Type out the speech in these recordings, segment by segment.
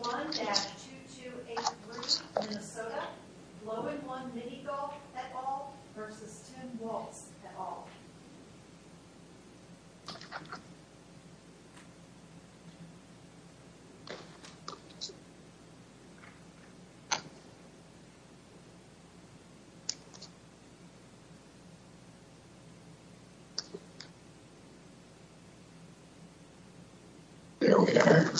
One at 2283 Minnesota, Low In One Mini Golf, LLC v. Tim Walz, LLC. There we are.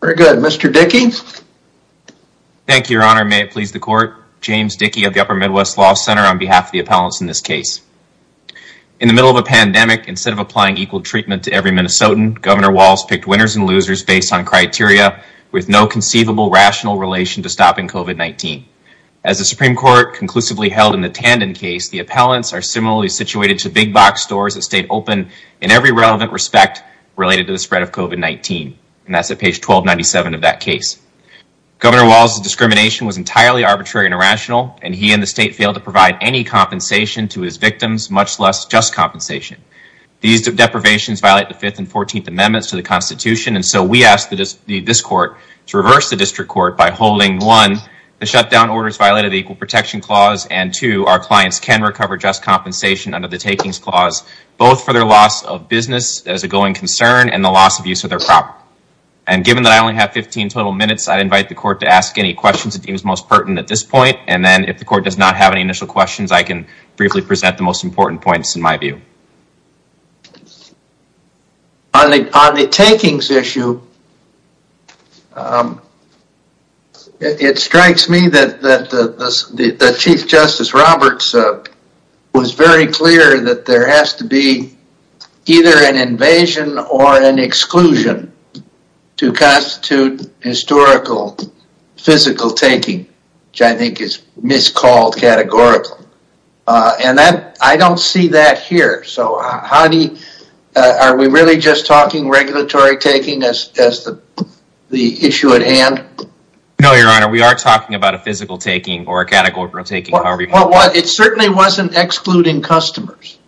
Very good. Mr. Dickey. Thank you, Your Honor. May it please the court. James Dickey of the Upper Midwest Law Center on behalf of the appellants in this case. In the middle of a pandemic, instead of applying equal treatment to every Minnesotan, Governor Walz picked winners and losers based on criteria with no conceivable rational relation to stopping COVID-19. As the Supreme Court conclusively held in the Tandon case, the appellants are similarly situated to big box stores that stayed open in every relevant respect related to the spread of COVID-19. And that's at page 1297 of that case. Governor Walz's discrimination was entirely arbitrary and irrational, and he and the state failed to provide any compensation to his victims, much less just compensation. These deprivations violate the Fifth and Fourteenth Amendments to the Constitution. And so we asked this court to reverse the district court by holding, one, the shutdown orders violated the Equal Protection Clause, and two, our clients can recover just compensation under the Takings Clause, both for their loss of business as a going concern and the loss of use of their property. And given that I only have 15 total minutes, I invite the court to ask any questions it deems most pertinent at this point. And then if the court does not have any initial questions, I can briefly present the most important points in my view. On the takings issue, it strikes me that Chief Justice Roberts was very clear that there has to be either an invasion or an exclusion to constitute historical physical taking, which I think is miscalled categorical. And I don't see that here. So are we really just talking regulatory taking as the issue at hand? No, Your Honor. We are talking about a physical taking or a categorical taking, however you want to call it. It certainly wasn't excluding customers.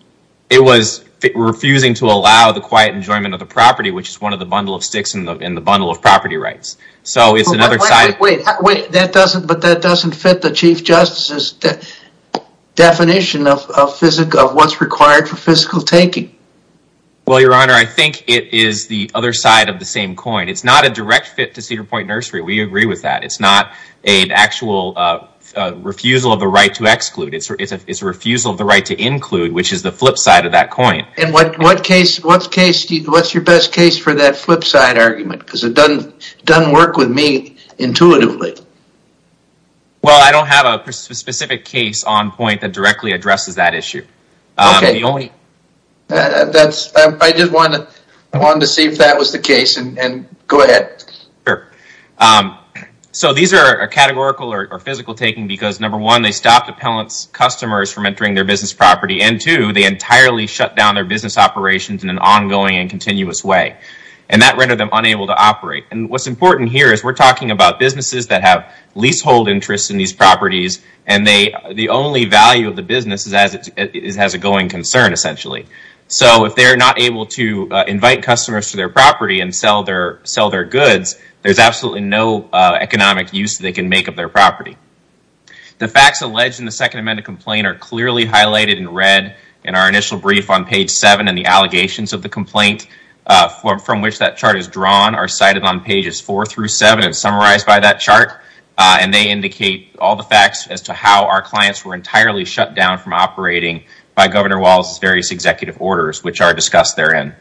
It was refusing to allow the quiet enjoyment of the property, which is one of the bundle of sticks in the bundle of property rights. So it's another side. Wait, that doesn't fit the Chief Justice's definition of what's required for physical taking. Well, Your Honor, I think it is the other side of the same coin. It's not a direct fit to Cedar Point Nursery. We agree with that. It's not an actual refusal of the right to exclude. It's a refusal of the right to include, which is the flip side of that coin. And what's your best case for that flip side argument? Because it doesn't work with me intuitively. Well, I don't have a specific case on point that directly addresses that issue. I just wanted to see if that was the case and go ahead. So these are a categorical or physical taking because number one, they stopped appellant's customers from entering their business property and two, they entirely shut down their business operations in an ongoing and continuous way and that rendered them unable to operate. And what's important here is we're talking about businesses that have lease hold interests in these properties and the only value of the business is it has a going concern essentially. So if they're not able to invite customers to their property and sell their goods, there's absolutely no economic use they can make of their property. The facts alleged in the Second Amendment complaint are clearly highlighted in red in our initial brief on page seven and the allegations of the complaint from which that chart is drawn are cited on pages four through seven and summarized by that chart and they indicate all the facts as to how our property is operating by Governor Walz's various executive orders, which are discussed therein.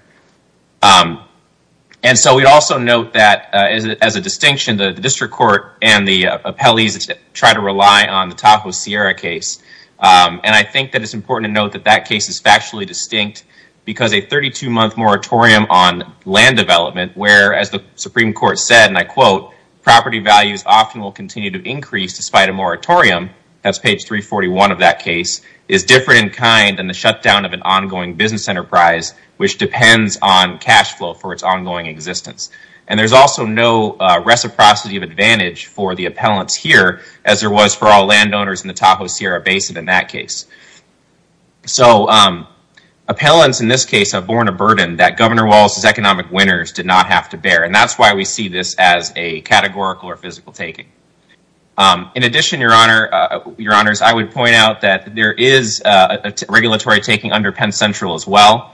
And so we'd also note that as a distinction, the district court and the appellees try to rely on the Tahoe Sierra case and I think that it's important to note that that case is factually distinct because a 32-month moratorium on land development where as the Supreme Court said, and I quote, property values often will continue to increase despite a moratorium, that's different in kind than the shutdown of an ongoing business enterprise, which depends on cash flow for its ongoing existence. And there's also no reciprocity of advantage for the appellants here as there was for all landowners in the Tahoe Sierra Basin in that case. So appellants in this case have borne a burden that Governor Walz's economic winners did not have to bear and that's why we see this as a categorical or physical taking. In addition, your honors, I would point out that there is a regulatory taking under Penn Central as well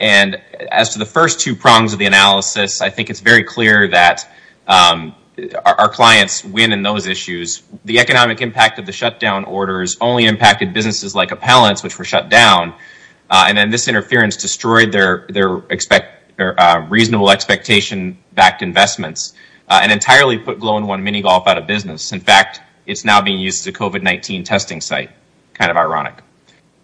and as to the first two prongs of the analysis, I think it's very clear that our clients win in those issues. The economic impact of the shutdown orders only impacted businesses like appellants, which were shut down, and then this interference destroyed their reasonable expectation-backed investments and entirely put Glow-in-One Mini-Golf out of business. In fact, it's now being used as a COVID-19 testing site. Kind of ironic.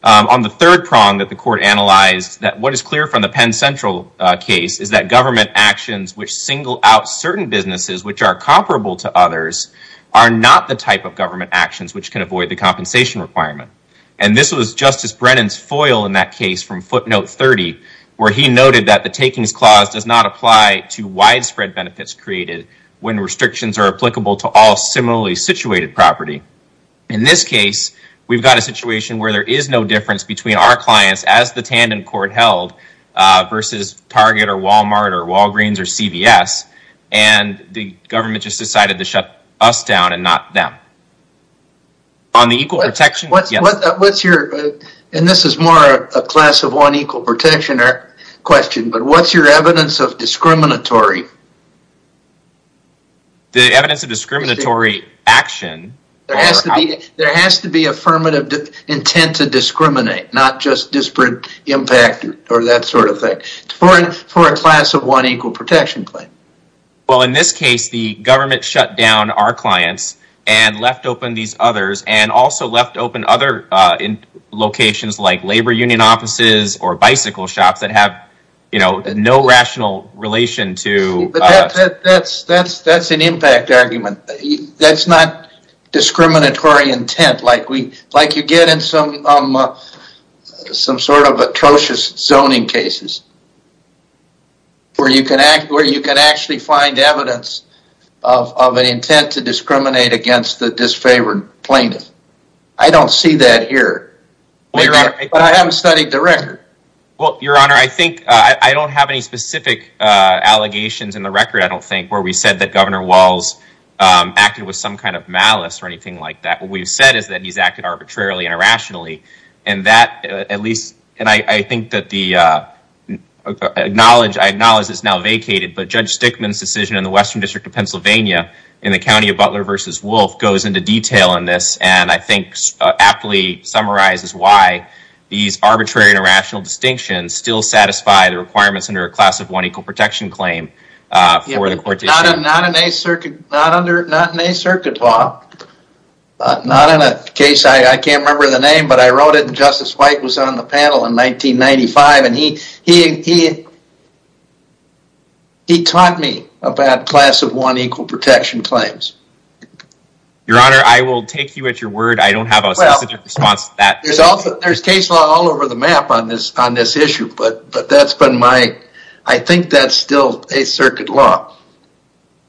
On the third prong that the court analyzed that what is clear from the Penn Central case is that government actions which single out certain businesses, which are comparable to others, are not the type of government actions which can avoid the compensation requirement. And this was Justice Brennan's foil in that case from footnote 30, where he noted that the takings clause does not apply to widespread benefits created when restrictions are applicable to all similarly situated property. In this case, we've got a situation where there is no difference between our clients, as the Tandon court held, versus Target or Walmart or Walgreens or CVS, and the government just decided to shut us down and not them. On the equal protection... What's your, and this is more a class-of-one equal protection question, but what's your evidence of discriminatory? The evidence of discriminatory action? There has to be, there has to be affirmative intent to discriminate, not just disparate impact or that sort of thing, for a class-of-one equal protection claim. Well, in this case, the government shut down our clients and left open these other locations like labor union offices or bicycle shops that have, you know, no rational relation to... That's an impact argument. That's not discriminatory intent like we, like you get in some sort of atrocious zoning cases. Where you can actually find evidence of an intent to discriminate against the disfavored plaintiff. I don't see that here, but I haven't studied the record. Well, your honor, I think I don't have any specific allegations in the record. I don't think where we said that Governor Walz acted with some kind of malice or anything like that. What we've said is that he's acted arbitrarily and irrationally and that at least, and I think that the knowledge I acknowledge is now vacated, but Judge Stickman's decision in the Western District of Pennsylvania in the County of Butler v. Wolfe goes into detail on this and I think aptly summarizes why these arbitrary and irrational distinctions still satisfy the requirements under a class of one equal protection claim for the court issue. Not in a circuit law. Not in a case, I can't remember the name, but I wrote it and Justice White was on the panel in 1995 and he taught me about class of one equal protection claims. Your honor, I will take you at your word. I don't have a specific response to that. There's case law all over the map on this on this issue, but that's been my, I think that's still a circuit law.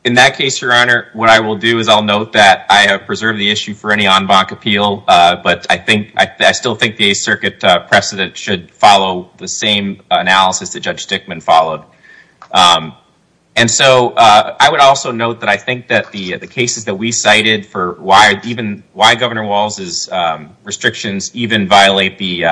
In that case, your honor, what I will do is I'll note that I have preserved the issue for any en banc appeal, but I think I still think the Eighth Circuit precedent should follow the same analysis that Judge Stickman followed. And so I would also note that I think that the cases that we cited for why even why Governor Walz's restrictions even violate the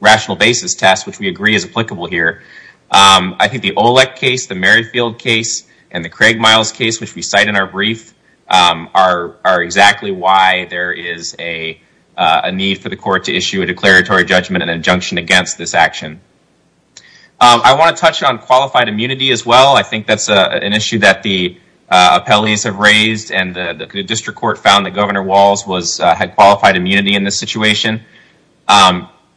rational basis test, which we agree is applicable here. I think the Olek case, the Merrifield case, and the Craig Miles case, which we cite in our brief, are exactly why there is a need for the court to issue a declaratory judgment and injunction against this action. I want to touch on qualified immunity as well. I think that's an issue that the appellees have raised and the district court found that Governor Walz had qualified immunity in this situation.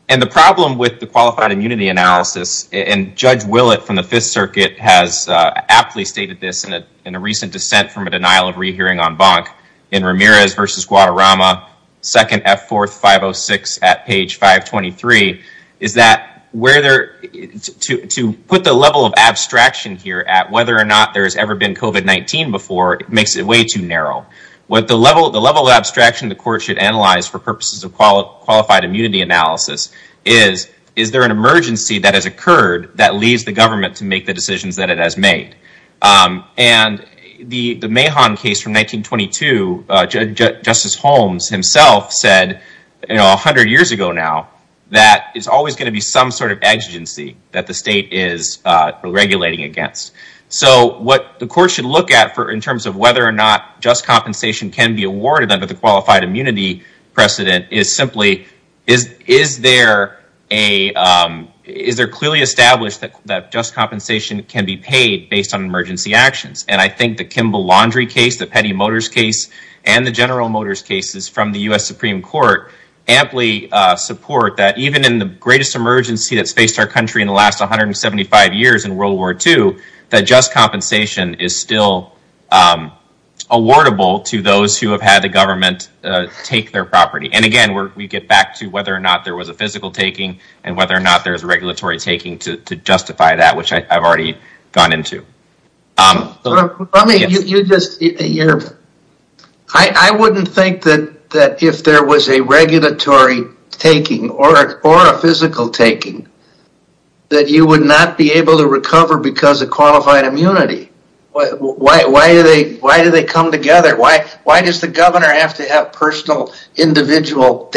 And the problem with the qualified immunity analysis, and Judge Willett from the Fifth Circuit has aptly stated this in a recent dissent from a denial of rehearing en banc in Ramirez v. Guadarrama, 2nd F. 4th 506 at page 523, is that to put the level of abstraction here at whether or not there has ever been COVID-19 before makes it way too narrow. What the level of abstraction the court should analyze for purposes of qualified immunity analysis is, is there an emergency that has occurred that leads the government to make the decisions that it has Justice Holmes himself said 100 years ago now, that it's always going to be some sort of exigency that the state is regulating against. So what the court should look at in terms of whether or not just compensation can be awarded under the qualified immunity precedent is simply, is there clearly established that just compensation can be paid based on emergency actions? And I think the Kimball-Laundrie case, the Petty Motors case, and the General Motors cases from the U.S. Supreme Court, amply support that even in the greatest emergency that's faced our country in the last 175 years in World War II, that just compensation is still awardable to those who have had the government take their property. And again, we get back to whether or not there was a physical taking and whether or not there is a regulatory taking to justify that, which I've already gone into. I wouldn't think that if there was a regulatory taking or a physical taking, that you would not be able to recover because of qualified immunity. Why do they come together? Why does the governor have to have personal individual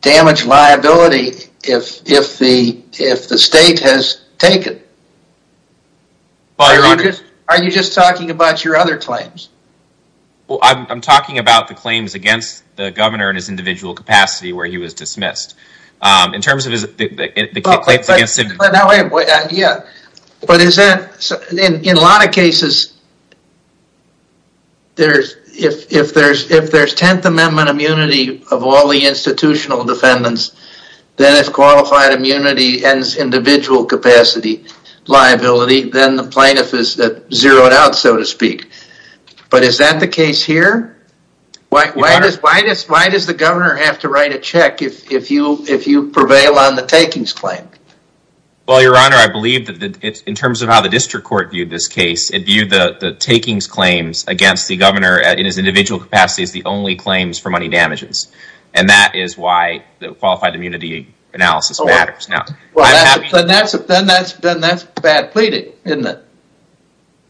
damage liability if the state has taken? Are you just talking about your other claims? Well, I'm talking about the claims against the governor in his individual capacity where he was dismissed. In terms of his claims against him. Yeah, but is that, in a lot of cases, if there's 10th Amendment immunity of all the institutional defendants, then if qualified immunity ends individual capacity liability, then the plaintiff is zeroed out, so to speak. But is that the case here? Why does the governor have to write a check if you prevail on the takings claim? Well, your honor, I believe that in terms of how the district court viewed this case, it viewed the takings claims against the governor in his individual capacity as the only claims for money damages. And that is why the qualified immunity analysis matters. Then that's bad pleading, isn't it?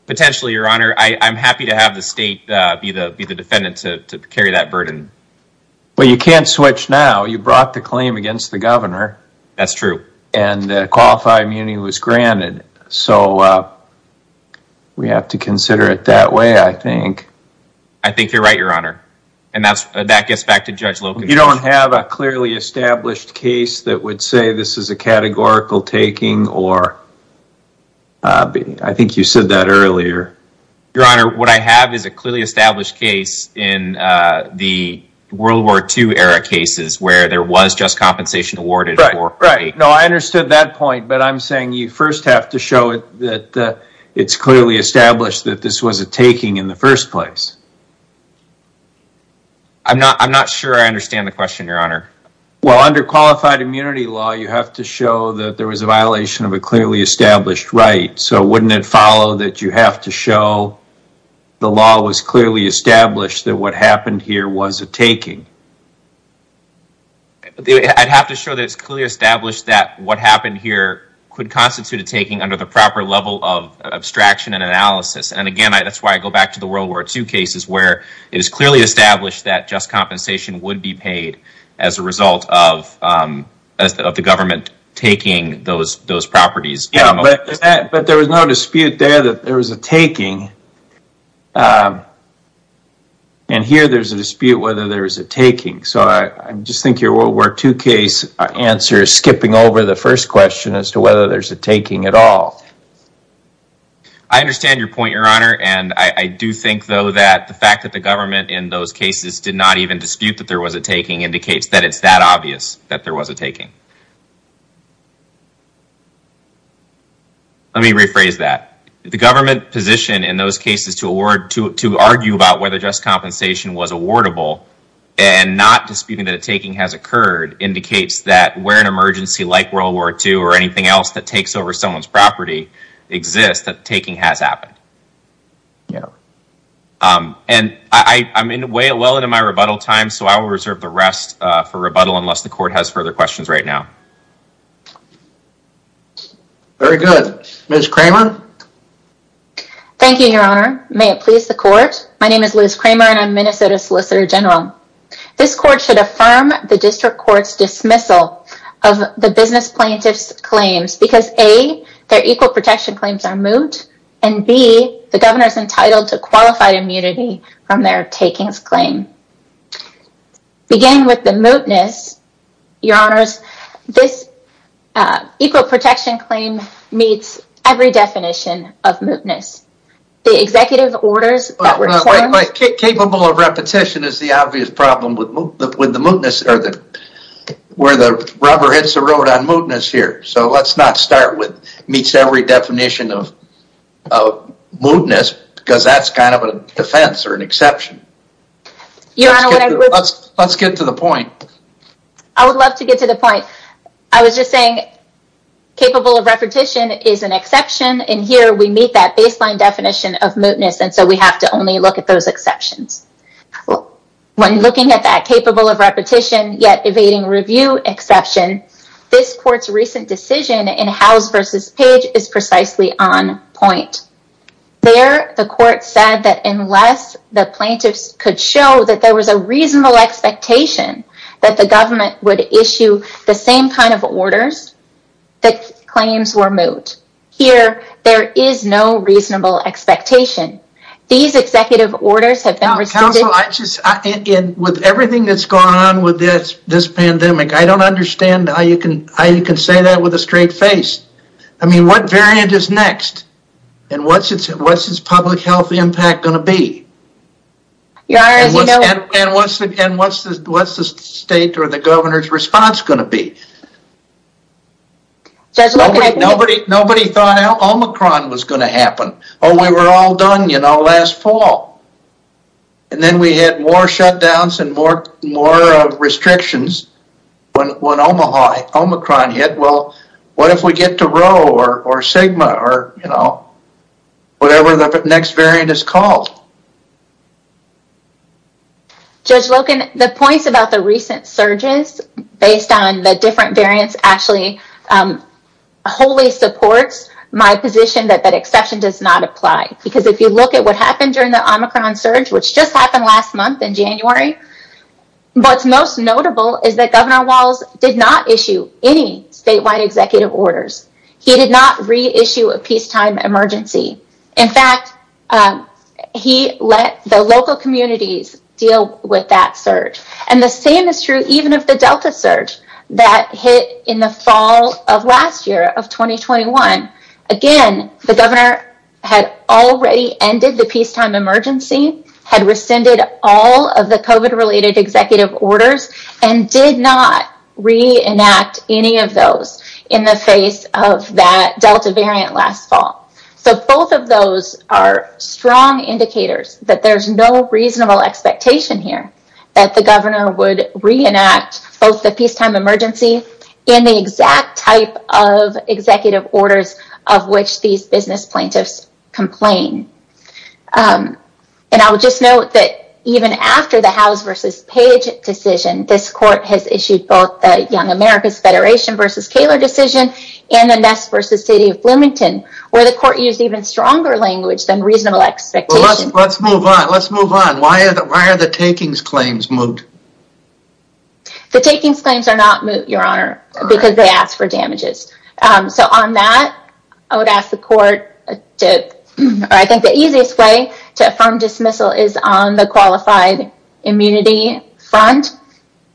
Potentially, your honor. I'm happy to have the state be the defendant to carry that burden. Well, you can't switch now. You brought the claim against the governor. That's true. And qualified immunity was granted. So we have to consider it that way, I think. I think you're right, your honor. And that gets back to judge Loken. You don't have a clearly established case that would say this is a categorical taking or I think you said that earlier. Your honor, what I have is a clearly established case in the World War II era cases where there was just compensation awarded. Right, right. No, I understood that point, but I'm saying you first have to show it that it's clearly established that this was a taking in the first place. I'm not sure I understand the question, your honor. Well, under qualified immunity law, you have to show that there was a violation of a clearly established right. So wouldn't it follow that you have to show the law was clearly established that what happened here was a taking? I'd have to show that it's clearly established that what happened and analysis. And again, that's why I go back to the World War II cases where it is clearly established that just compensation would be paid as a result of the government taking those properties. Yeah, but there was no dispute there that there was a taking. And here there's a dispute whether there was a taking. So I just think your World War II case answer is skipping over the first question as to whether there's a taking at all. I understand your point, your honor. And I do think though that the fact that the government in those cases did not even dispute that there was a taking indicates that it's that obvious that there was a taking. Let me rephrase that. The government position in those cases to argue about whether just compensation was awardable and not disputing that a taking has occurred indicates that where an emergency like World War II or exists that taking has happened. And I'm well into my rebuttal time. So I will reserve the rest for rebuttal unless the court has further questions right now. Very good. Ms. Kramer. Thank you, your honor. May it please the court. My name is Liz Kramer and I'm Minnesota Solicitor General. This court should affirm the district court's dismissal of the business plaintiff's claims because A, their equal protection claims are moot and B, the governor is entitled to qualified immunity from their takings claim. Beginning with the mootness, your honors, this equal protection claim meets every definition of mootness. The executive orders. Capable of repetition is the obvious problem with the mootness or the where the rubber hits the road on mootness here. So let's not start with meets every definition of mootness because that's kind of a defense or an exception. Your honor, let's get to the point. I would love to get to the point. I was just saying capable of repetition is an exception in here. We meet that baseline definition of mootness. And so we have to only look at those exceptions. When looking at that capable of repetition yet evading review exception, this court's recent decision in House v. Page is precisely on point. There, the court said that unless the plaintiffs could show that there was a reasonable expectation that the government would issue the same kind of orders, the claims were moot. Here, there is no reasonable expectation. These executive orders have been received. Counselor, with everything that's going on with this pandemic, I don't understand how you can say that with a straight face. I mean, what variant is next? And what's its public health impact going to be? Your honor, as you know. And what's the state or the governor's response going to be? Nobody thought Omicron was going to happen. Oh, we were all done, you know, last fall. And then we had more shutdowns and more restrictions when Omicron hit. Well, what if we get to Rho or Sigma or, you know, whatever the next variant is called? Judge Loken, the points about the recent surges based on the different variants actually wholly supports my position that that exception does not apply because if you look at what happened during the Omicron surge, which just happened last month in January, what's most notable is that Governor Walz did not issue any statewide executive orders. He did not reissue a peacetime emergency. In fact, he let the local communities deal with that surge. And the same is true, even if the Delta surge that hit in the fall of last year of 2021. Again, the governor had already ended the peacetime emergency, had rescinded all of the COVID related executive orders, and did not reenact any of those in the face of that Delta variant last fall. So both of those are strong indicators that there's no reasonable expectation here that the governor would reenact both the peacetime emergency and the exact type of executive orders of which these business plaintiffs complain. And I would just note that even after the House v. Page decision, this court has issued both the Young America's Federation v. Kaler decision and the Ness v. City of Bloomington, where the court used even stronger language than reasonable expectation. Let's move on. Let's move on. Why are the takings claims moot? The takings claims are not moot, Your Honor, because they ask for damages. So on that, I would ask the court to, I think the easiest way to affirm dismissal is on the qualified immunity front.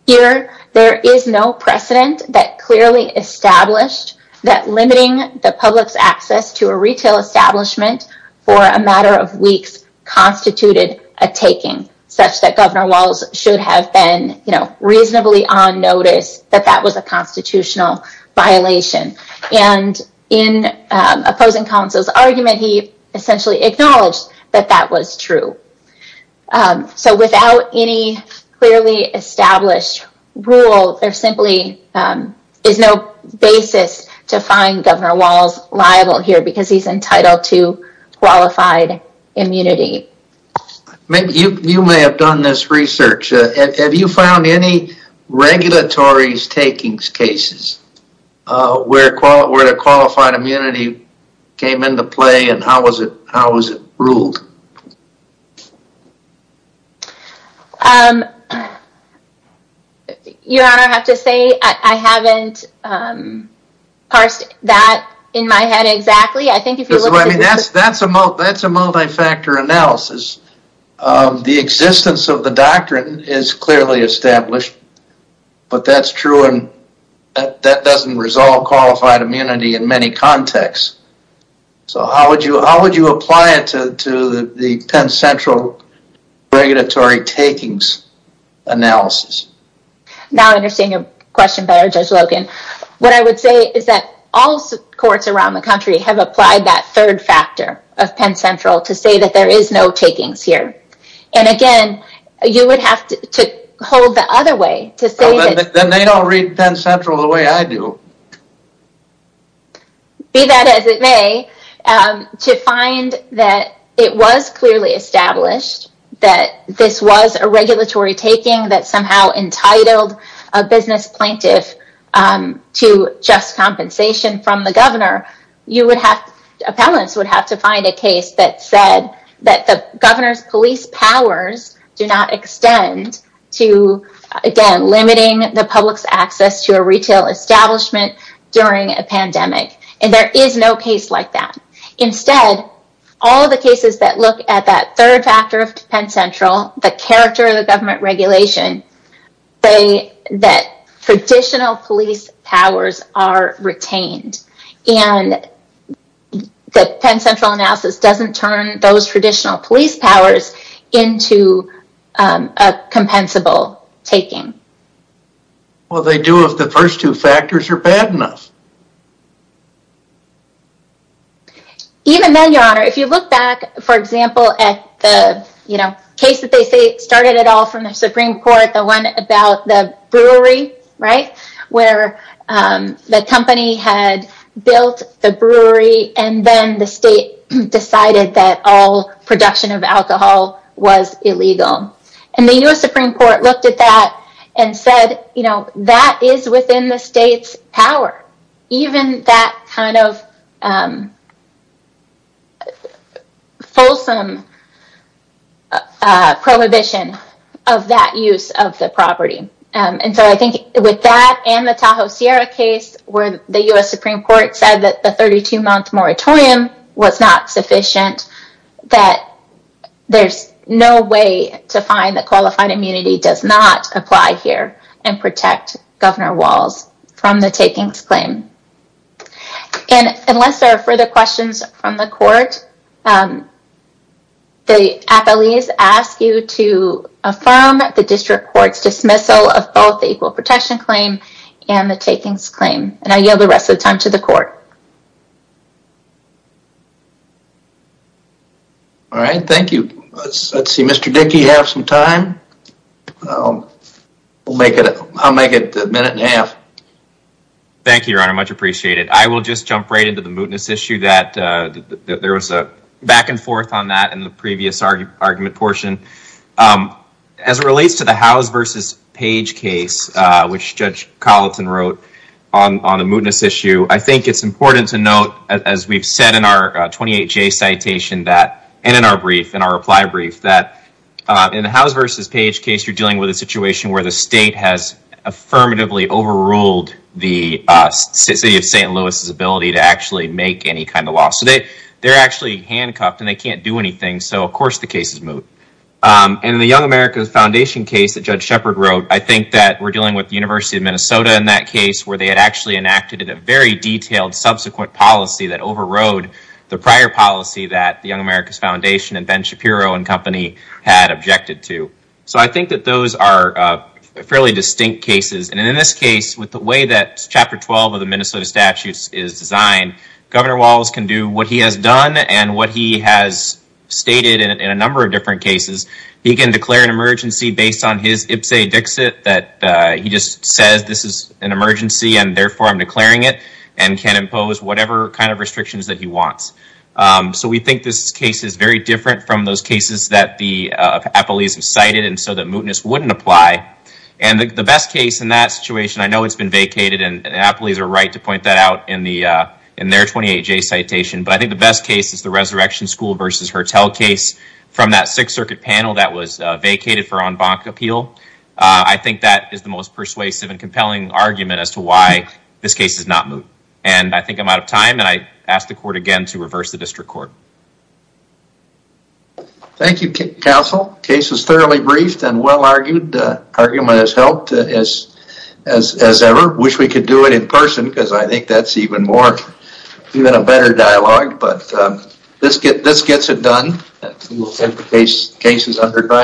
Here, there is no precedent that clearly established that limiting the public's access to a retail establishment for a matter of weeks constituted a taking, such that Governor Walz should have been, you know, reasonably on notice that that was a constitutional violation. And in opposing counsel's argument, he essentially acknowledged that that was true. So without any clearly established rule, there simply is no basis to You may have done this research. Have you found any regulatory takings cases where the qualified immunity came into play and how was it ruled? Your Honor, I have to say I haven't parsed that in my head exactly. That's a multi-factor analysis. The existence of the doctrine is clearly established, but that's true and that doesn't resolve qualified immunity in many contexts. So how would you apply it to the Penn Central regulatory takings analysis? Now I understand your question better, Judge Logan. What I would say is that all courts around the country have applied that third factor of Penn Central to say that there is no takings here. And again, you would have to hold the other way to say that. Then they don't read Penn Central the way I do. Be that as it may, to find that it was clearly established that this was a regulatory taking that somehow entitled a business plaintiff to just compensation from the governor. You would have, appellants would have to find a case that said that the governor's police powers do not extend to, again, limiting the public's access to a retail establishment during a pandemic. And there is no case like that. Instead, all the cases that look at that third factor of Penn Central the character of the government regulation, say that traditional police powers are retained. And the Penn Central analysis doesn't turn those traditional police powers into a compensable taking. Well, they do if the first two factors are bad enough. Even then, Your Honor, if you look back, for example, at the, you they say started it all from the Supreme Court, the one about the brewery, right, where the company had built the brewery and then the state decided that all production of alcohol was illegal. And the U.S. Supreme Court looked at that and said, you know, that is within the prohibition of that use of the property. And so I think with that and the Tahoe Sierra case where the U.S. Supreme Court said that the 32-month moratorium was not sufficient, that there's no way to find that qualified immunity does not apply here and protect Governor Walz from the takings claim. And unless there are further questions from the court, the appellees ask you to affirm the district court's dismissal of both the equal protection claim and the takings claim. And I yield the rest of the time to the court. All right. Let's see, Mr. Dickey, you have some time. We'll make it, I'll make it a minute and a half. Thank you, Your Honor. Much appreciated. I will just jump right into the mootness issue that there was a back and forth on that in the previous argument portion. As it relates to the House versus Page case, which Judge Colleton wrote on a mootness issue, I think it's important to note, as we've said in our 28-J citation that, and in our brief, in our reply brief, that in the House versus Page case, you're dealing with a situation where the state has affirmatively overruled the city of St. Louis's ability to actually make any kind of law. So they're actually handcuffed and they can't do anything. So, of course, the case is moot. And in the Young America Foundation case that Judge Shepard wrote, I think that we're dealing with the University of Minnesota in that case where they had actually enacted a very detailed subsequent policy that overrode the prior policy that the Young America Foundation and Ben Shapiro and company had objected to. So I think that those are fairly distinct cases. And in this case, with the way that Chapter 12 of the Minnesota Statutes is designed, Governor Walz can do what he has done and what he has stated in a number of different cases. He can declare an emergency based on his ipse dixit that he just says this is an emergency and therefore I'm declaring it and can impose whatever kind of restrictions that he wants. So we think this case is very different from those cases that the appellees have cited and so that mootness wouldn't apply. And the best case in that situation, I know it's been vacated and we'll get that out in their 28J citation, but I think the best case is the Resurrection School versus Hertel case from that Sixth Circuit panel that was vacated for en banc appeal. I think that is the most persuasive and compelling argument as to why this case is not moot. And I think I'm out of time and I ask the court again to reverse the district court. Thank you, counsel. Case is thoroughly briefed and well-argued. Argument has helped as ever. Wish we could do it in person because I think that's even more, even a better dialogue. But this gets it done. Case is under trial.